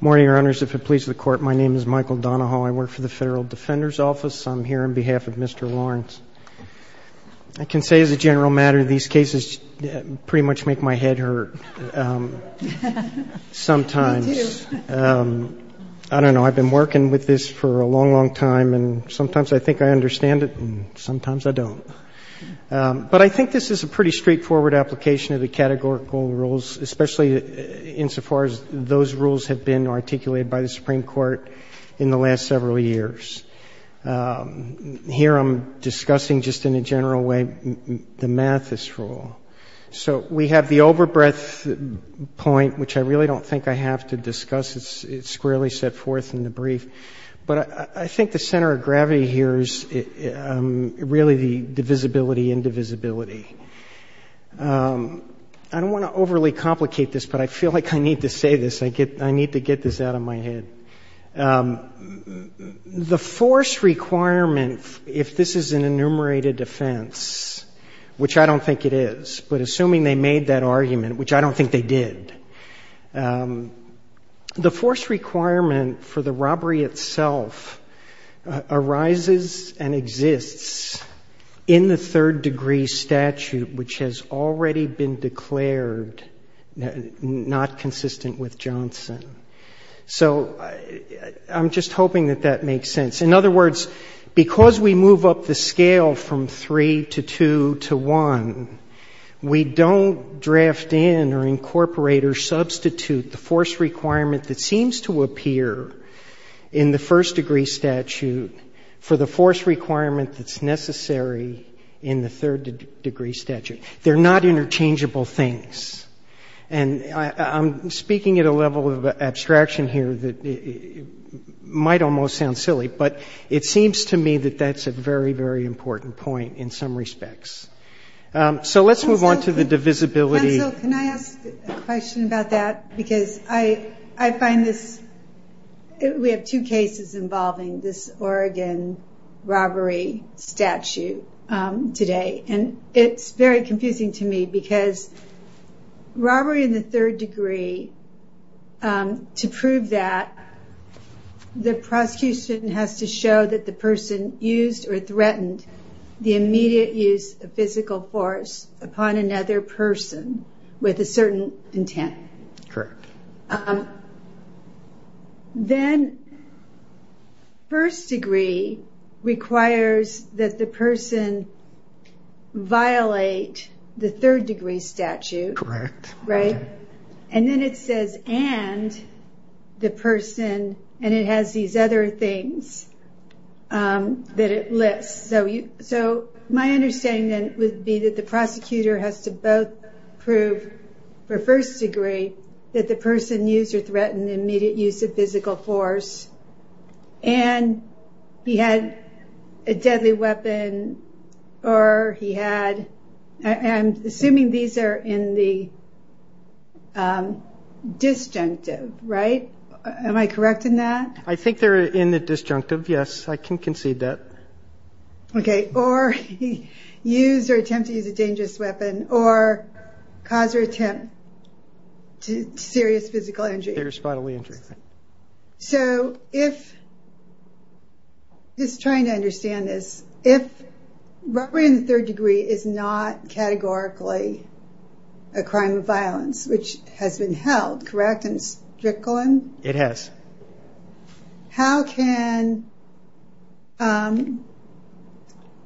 Morning, Your Honors. If it pleases the Court, my name is Michael Donahoe. I work for the Federal Defender's Office. I'm here on behalf of Mr. Lawrence. I can say, as a general matter, these cases pretty much make my head hurt. Sometimes. Me, too. I don't know. I've been working with this for a long, long time, and sometimes I think I understand it, and sometimes I don't. But I think this is a pretty straightforward application of the categorical rules, especially insofar as those rules have been articulated by the Supreme Court in the last several years. Here I'm discussing, just in a general way, the Mathis rule. So we have the overbreadth point, which I really don't think I have to discuss. It's squarely set forth in the brief. But I think the center of gravity here is really the divisibility-indivisibility. I don't want to overly complicate this, but I feel like I need to say this. I need to get this out of my head. The force requirement, if this is an enumerated offense, which I don't think it is, but assuming they made that argument, which I don't think they did, the force requirement for the robbery itself arises and exists in the third-degree statute, which has already been declared not consistent with Johnson. So I'm just hoping that that makes sense. In other words, because we move up the scale from 3 to 2 to 1, we don't draft in or incorporate or substitute the force requirement that seems to appear in the first-degree statute for the force requirement that's necessary in the third-degree statute. They're not interchangeable things. And I'm speaking at a level of abstraction here that might almost sound silly, but it seems to me that that's a very, very important point in some respects. So let's move on to the divisibility- Robbery in the third degree, to prove that, the prosecution has to show that the person used or threatened the immediate use of physical force upon another person with a certain intent. Correct. Then, first degree requires that the person violate the third-degree statute. Correct. Right? And then it says, and the person, and it has these other things that it lists. So my understanding then would be that the prosecutor has to both prove, for first degree, that the person used or threatened the immediate use of physical force, and he had a deadly weapon, or he had, I'm assuming these are in the disjunctive, right? Am I correct in that? I think they're in the disjunctive, yes, I can concede that. Okay, or he used or attempted to use a dangerous weapon, or caused or attempt to serious physical injury. Serious bodily injury. So if, just trying to understand this, if robbery in the third degree is not categorically a crime of violence, which has been held, correct in Strickland? It has. How can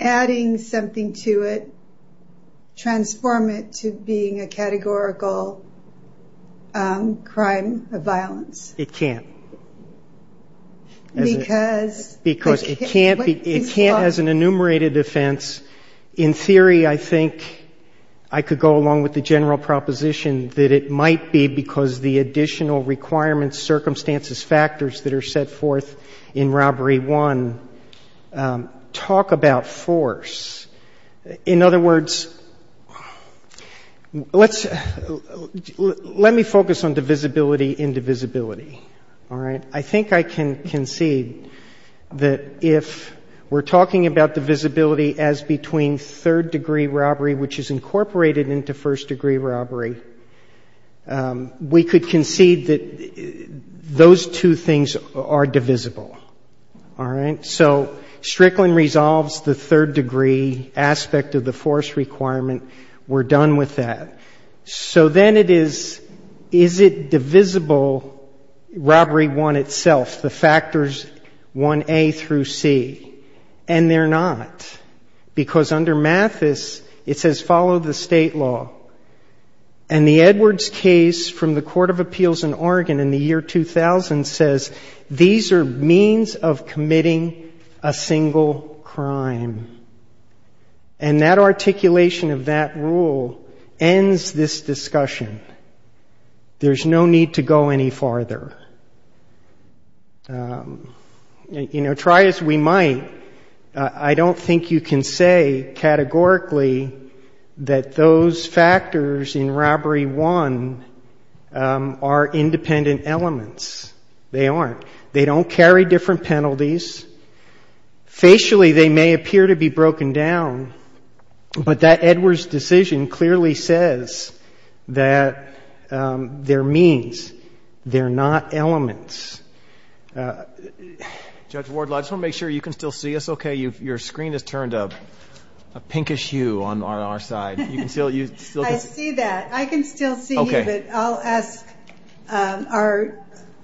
adding something to it transform it to being a categorical crime of violence? It can't. Because? Because it can't as an enumerated offense. In theory, I think I could go along with the general proposition that it might be because the additional requirements, circumstances, factors that are set forth in Robbery 1 talk about force. In other words, let's, let me focus on divisibility and divisibility, all right? And I think I can concede that if we're talking about divisibility as between third-degree robbery, which is incorporated into first-degree robbery, we could concede that those two things are divisible, all right? So Strickland resolves the third-degree aspect of the force requirement. We're done with that. So then it is, is it divisible, Robbery 1 itself, the factors 1A through C? And they're not. Because under Mathis, it says follow the state law. And the Edwards case from the Court of Appeals in Oregon in the year 2000 says these are means of committing a single crime. And that articulation of that rule ends this discussion. There's no need to go any farther. You know, try as we might, I don't think you can say categorically that those factors in Robbery 1 are independent elements. They aren't. They don't carry different penalties. Facially, they may appear to be broken down, but that Edwards decision clearly says that they're means. They're not elements. Judge Wardlaw, I just want to make sure you can still see us okay. Your screen has turned a pinkish hue on our side. I see that. I can still see you, but I'll ask our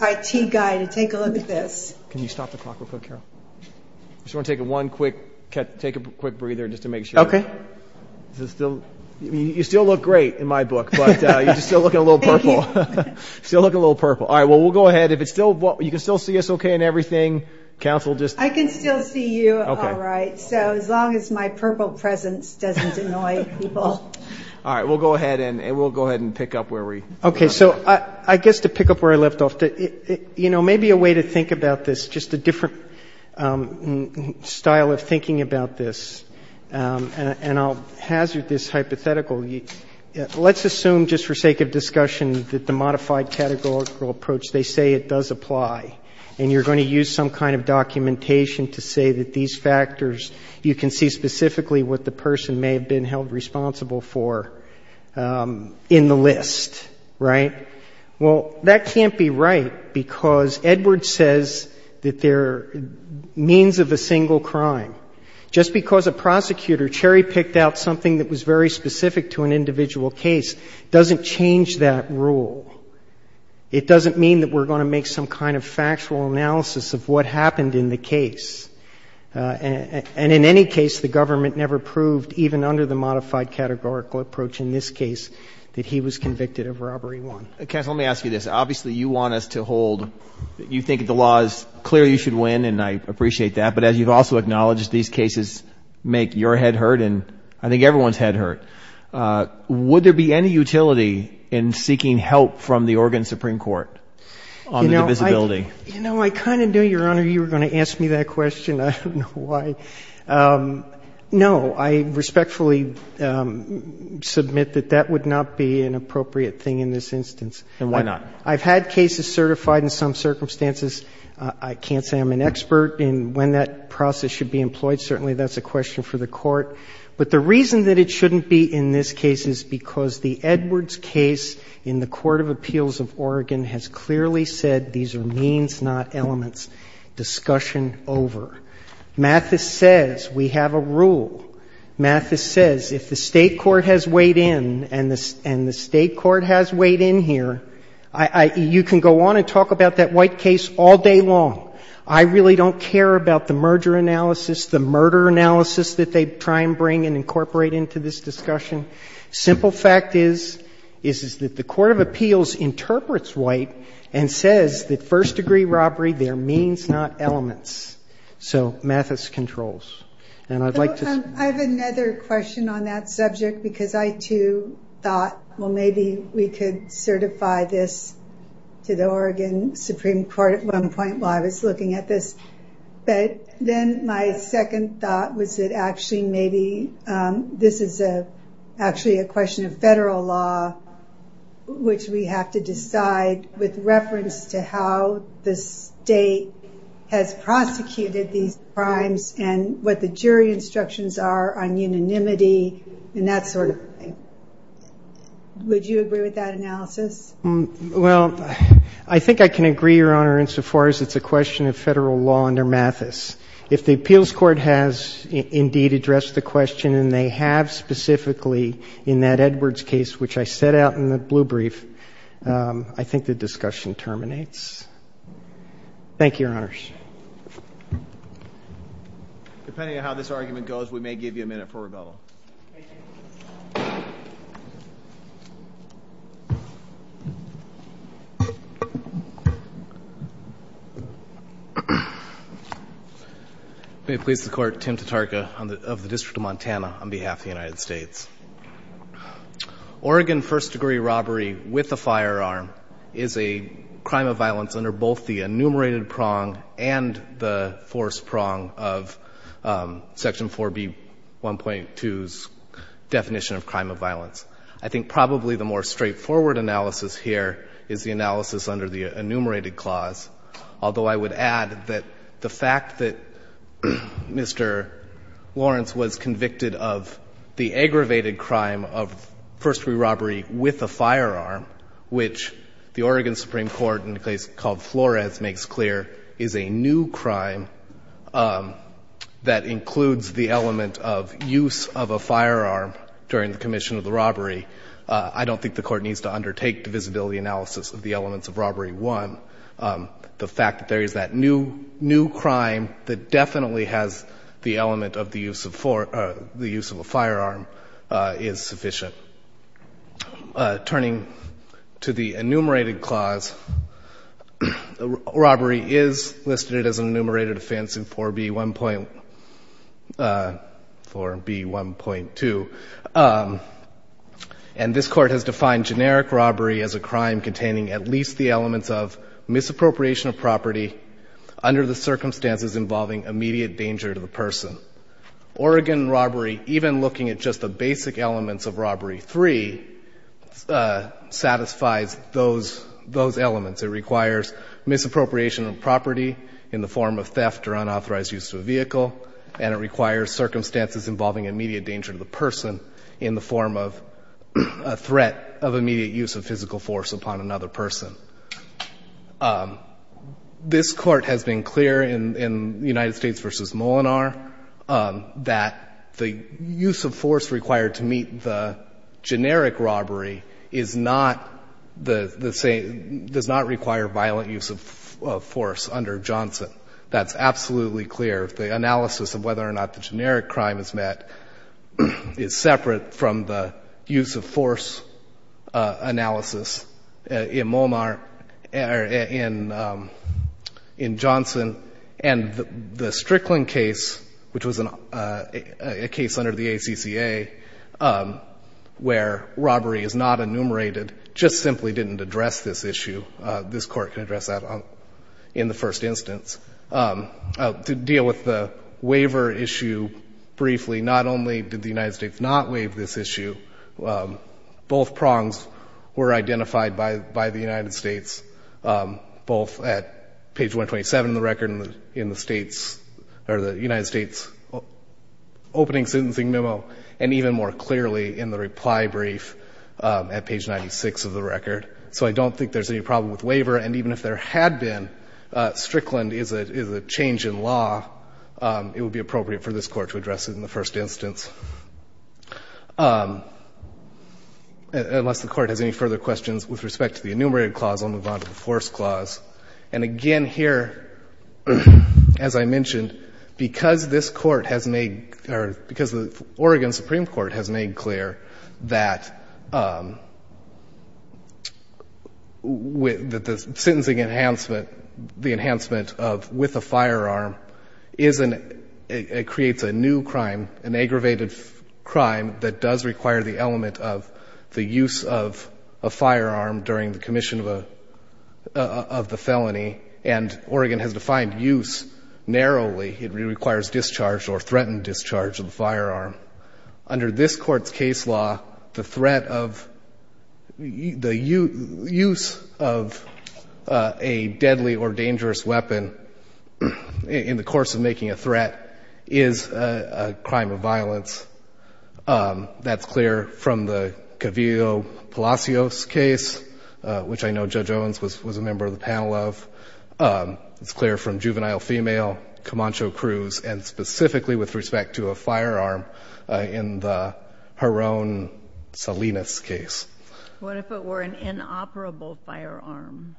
IT guy to take a look at this. Can you stop the clock real quick, Carol? I just want to take a quick breather just to make sure. Okay. You still look great in my book, but you're still looking a little purple. Thank you. Still looking a little purple. All right. Well, we'll go ahead. If it's still you can still see us okay and everything. Counsel, just. I can still see you all right, so as long as my purple presence doesn't annoy people. All right. We'll go ahead and pick up where we left off. Okay. So I guess to pick up where I left off, you know, maybe a way to think about this, just a different style of thinking about this, and I'll hazard this hypothetical. Let's assume just for sake of discussion that the modified categorical approach, they say it does apply, and you're going to use some kind of documentation to say that these factors, you can see specifically what the person may have been held responsible for in the list, right? Well, that can't be right because Edward says that they're means of a single crime. Just because a prosecutor cherry-picked out something that was very specific to an individual case doesn't change that rule. It doesn't mean that we're going to make some kind of factual analysis of what happened in the case. And in any case, the government never proved, even under the modified categorical approach in this case, that he was convicted of robbery one. Counsel, let me ask you this. Obviously, you want us to hold, you think the law is clear you should win, and I appreciate that, but as you've also acknowledged, these cases make your head hurt and I think everyone's head hurt. Would there be any utility in seeking help from the Oregon Supreme Court on the divisibility? You know, I kind of knew, Your Honor, you were going to ask me that question. I don't know why. No, I respectfully submit that that would not be an appropriate thing in this instance. And why not? I've had cases certified in some circumstances. I can't say I'm an expert in when that process should be employed. Certainly, that's a question for the Court. But the reason that it shouldn't be in this case is because the Edwards case in the Court of Appeals of Oregon has clearly said these are means, not elements. Discussion over. Mathis says we have a rule. Mathis says if the State court has weighed in and the State court has weighed in here, you can go on and talk about that White case all day long. I really don't care about the merger analysis, the murder analysis that they try and bring and incorporate into this discussion. Simple fact is, is that the Court of Appeals interprets White and says that first-degree robbery, they're means, not elements. So, Mathis controls. And I'd like to... I have another question on that subject because I, too, thought, well, maybe we could certify this to the Oregon Supreme Court at one point while I was looking at this. But then my second thought was that actually maybe this is actually a question of federal law, which we have to decide with reference to how the State has prosecuted these crimes and what the jury instructions are on unanimity and that sort of thing. Would you agree with that analysis? Well, I think I can agree, Your Honor, insofar as it's a question of federal law under Mathis. If the appeals court has indeed addressed the question, and they have specifically in that Edwards case, which I set out in the blue brief, I think the discussion terminates. Thank you, Your Honors. Depending on how this argument goes, we may give you a minute for rebuttal. Thank you. May it please the Court, Tim Tatarka of the District of Montana on behalf of the United States. Oregon first-degree robbery with a firearm is a crime of violence under both the enumerated prong and the forced prong of Section 4B1.2's definition of crime of violence. I think probably the more straightforward analysis here is the analysis under the enumerated clause, although I would add that the fact that Mr. Lawrence was convicted of the aggravated crime of first-degree robbery with a firearm, which the Oregon Supreme Court, in a case called Flores, makes clear is a new crime that includes the element of use of a firearm during the commission of the robbery. I don't think the Court needs to undertake divisibility analysis of the elements of Robbery 1. The fact that there is that new crime that definitely has the element of the use of a firearm is sufficient. Turning to the enumerated clause, robbery is listed as an enumerated offense in 4B1.2, and this Court has defined generic robbery as a crime containing at least the elements of misappropriation of property under the circumstances involving immediate danger to the person. Oregon robbery, even looking at just the basic elements of Robbery 3, satisfies those elements. It requires misappropriation of property in the form of theft or unauthorized use of a vehicle, and it requires circumstances involving immediate danger to the person in the form of a threat of immediate use of physical force upon another person. This Court has been clear in the United States v. Molinar that the use of force required to meet the generic robbery is not the same, does not require violent use of force under Johnson. That's absolutely clear. The analysis of whether or not the generic crime is met is separate from the use of force in Johnson. And the Strickland case, which was a case under the ACCA where robbery is not enumerated, just simply didn't address this issue. This Court can address that in the first instance. To deal with the waiver issue briefly, not only did the United States not waive this issue, both prongs were identified by the United States, both at page 127 in the record in the United States opening sentencing memo, and even more clearly in the reply brief at page 96 of the record. So I don't think there's any problem with waiver. And even if there had been, Strickland is a change in law. It would be appropriate for this Court to address it in the first instance. Unless the Court has any further questions with respect to the enumerated clause, I'll move on to the force clause. And again here, as I mentioned, because this Court has made or because the Oregon Supreme Court has made clear that the sentencing enhancement, the enhancement of with a firearm creates a new crime, an aggravated crime that does require the element of the use of a firearm during the commission of the felony. And Oregon has defined use narrowly. It requires discharge or threatened discharge of the firearm. Under this Court's case law, the threat of the use of a deadly or dangerous weapon in the course of making a threat is a crime of violence. That's clear from the Cavillo-Palacios case, which I know Judge Owens was a member of the panel of. It's clear from juvenile female, Camacho-Cruz, and specifically with respect to a firearm in the Heron-Salinas case. What if it were an inoperable firearm?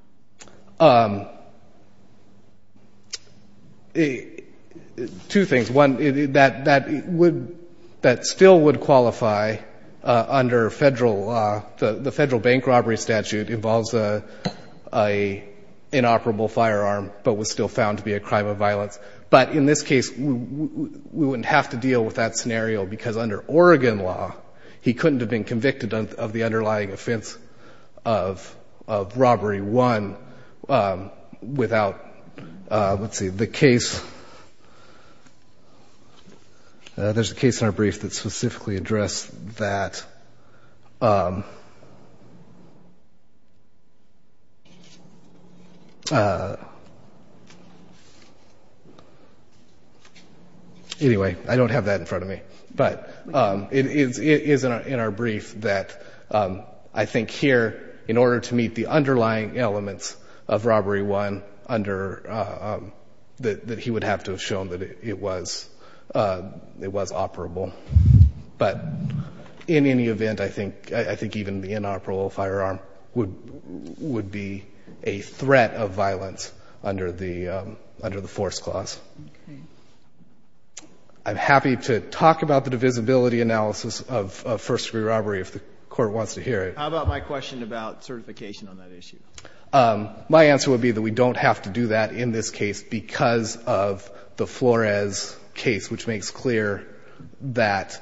Two things. One, that still would qualify under federal law. The federal bank robbery statute involves an inoperable firearm, but was still found to be a crime of violence. But in this case, we wouldn't have to deal with that scenario because under Oregon law, he couldn't have been convicted of the underlying offense of robbery one without, let's see, the case, there's a case in our brief that specifically addressed that. Anyway, I don't have that in front of me. But it is in our brief that I think here, in order to meet the underlying elements of robbery one, that he would have to have shown that it was operable. But in any event, I think even the inoperable firearm would be a threat of violence under the force clause. I'm happy to talk about the divisibility analysis of first-degree robbery if the Court wants to hear it. How about my question about certification on that issue? My answer would be that we don't have to do that in this case because of the Flores case, which makes clear that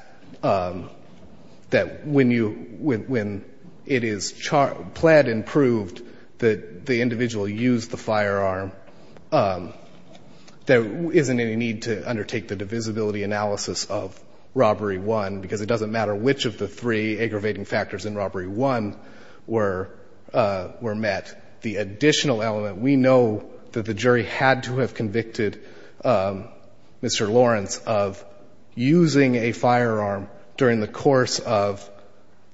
when it is pled and proved that the individual used the firearm, there isn't any need to undertake the divisibility analysis of robbery one, because it doesn't matter which of the three aggravating factors in robbery one were met. The additional element, we know that the jury had to have convicted Mr. Lawrence of using a firearm during the course of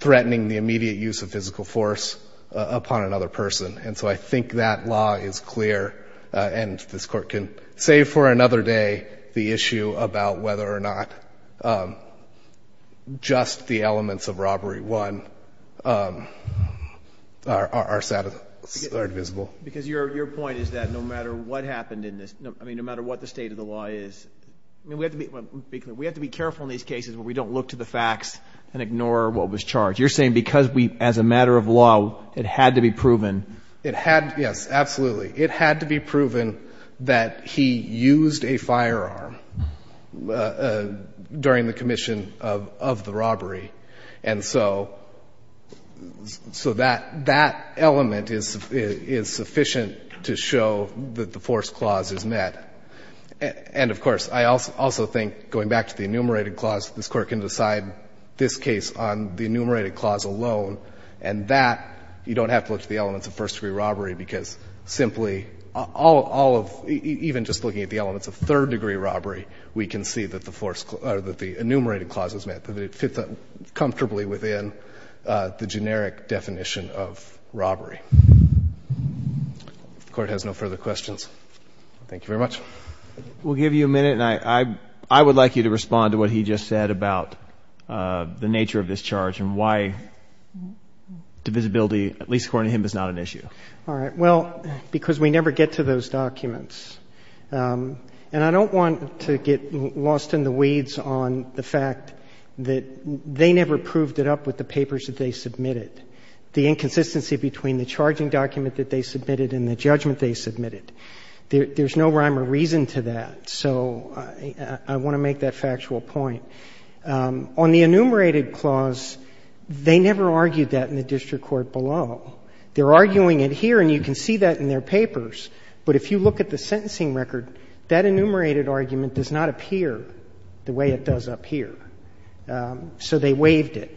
threatening the immediate use of physical force upon another person. And so I think that law is clear, and this Court can save for another day the issue about whether or not just the elements of robbery one are divisible. Because your point is that no matter what happened in this, I mean, no matter what the state of the law is, we have to be careful in these cases where we don't look to the facts and ignore what was charged. You're saying because as a matter of law, it had to be proven. It had, yes, absolutely. It had to be proven that he used a firearm during the commission of the robbery. And so that element is sufficient to show that the force clause is met. And, of course, I also think, going back to the enumerated clause, this Court can decide this case on the enumerated clause alone. And that you don't have to look to the elements of first-degree robbery, because simply all of, even just looking at the elements of third-degree robbery, we can see that the enumerated clause is met, that it fits comfortably within the generic definition of robbery. If the Court has no further questions. Thank you very much. We'll give you a minute, and I would like you to respond to what he just said about the nature of this charge and why divisibility, at least according to him, is not an issue. All right. Well, because we never get to those documents. And I don't want to get lost in the weeds on the fact that they never proved it up with the papers that they submitted, the inconsistency between the charging document that they submitted and the judgment they submitted. There's no rhyme or reason to that. So I want to make that factual point. On the enumerated clause, they never argued that in the district court below. They're arguing it here, and you can see that in their papers. But if you look at the sentencing record, that enumerated argument does not appear the way it does up here. So they waived it.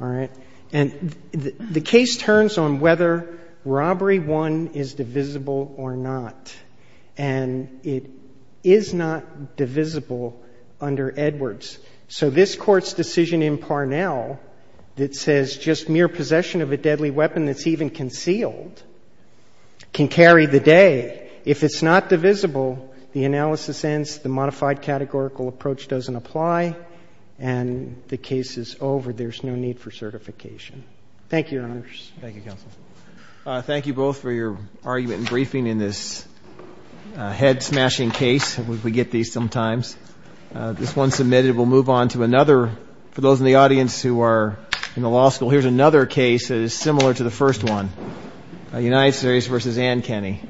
All right. And the case turns on whether Robbery I is divisible or not. And it is not divisible under Edwards. So this Court's decision in Parnell that says just mere possession of a deadly weapon that's even concealed can carry the day. If it's not divisible, the analysis ends, the modified categorical approach doesn't apply, and the case is over. There's no need for certification. Thank you, Your Honors. Thank you, Counsel. Thank you both for your argument and briefing in this head-smashing case. We get these sometimes. This one submitted. We'll move on to another. For those in the audience who are in the law school, here's another case that is similar to the first one, United States v. Ann Kenney.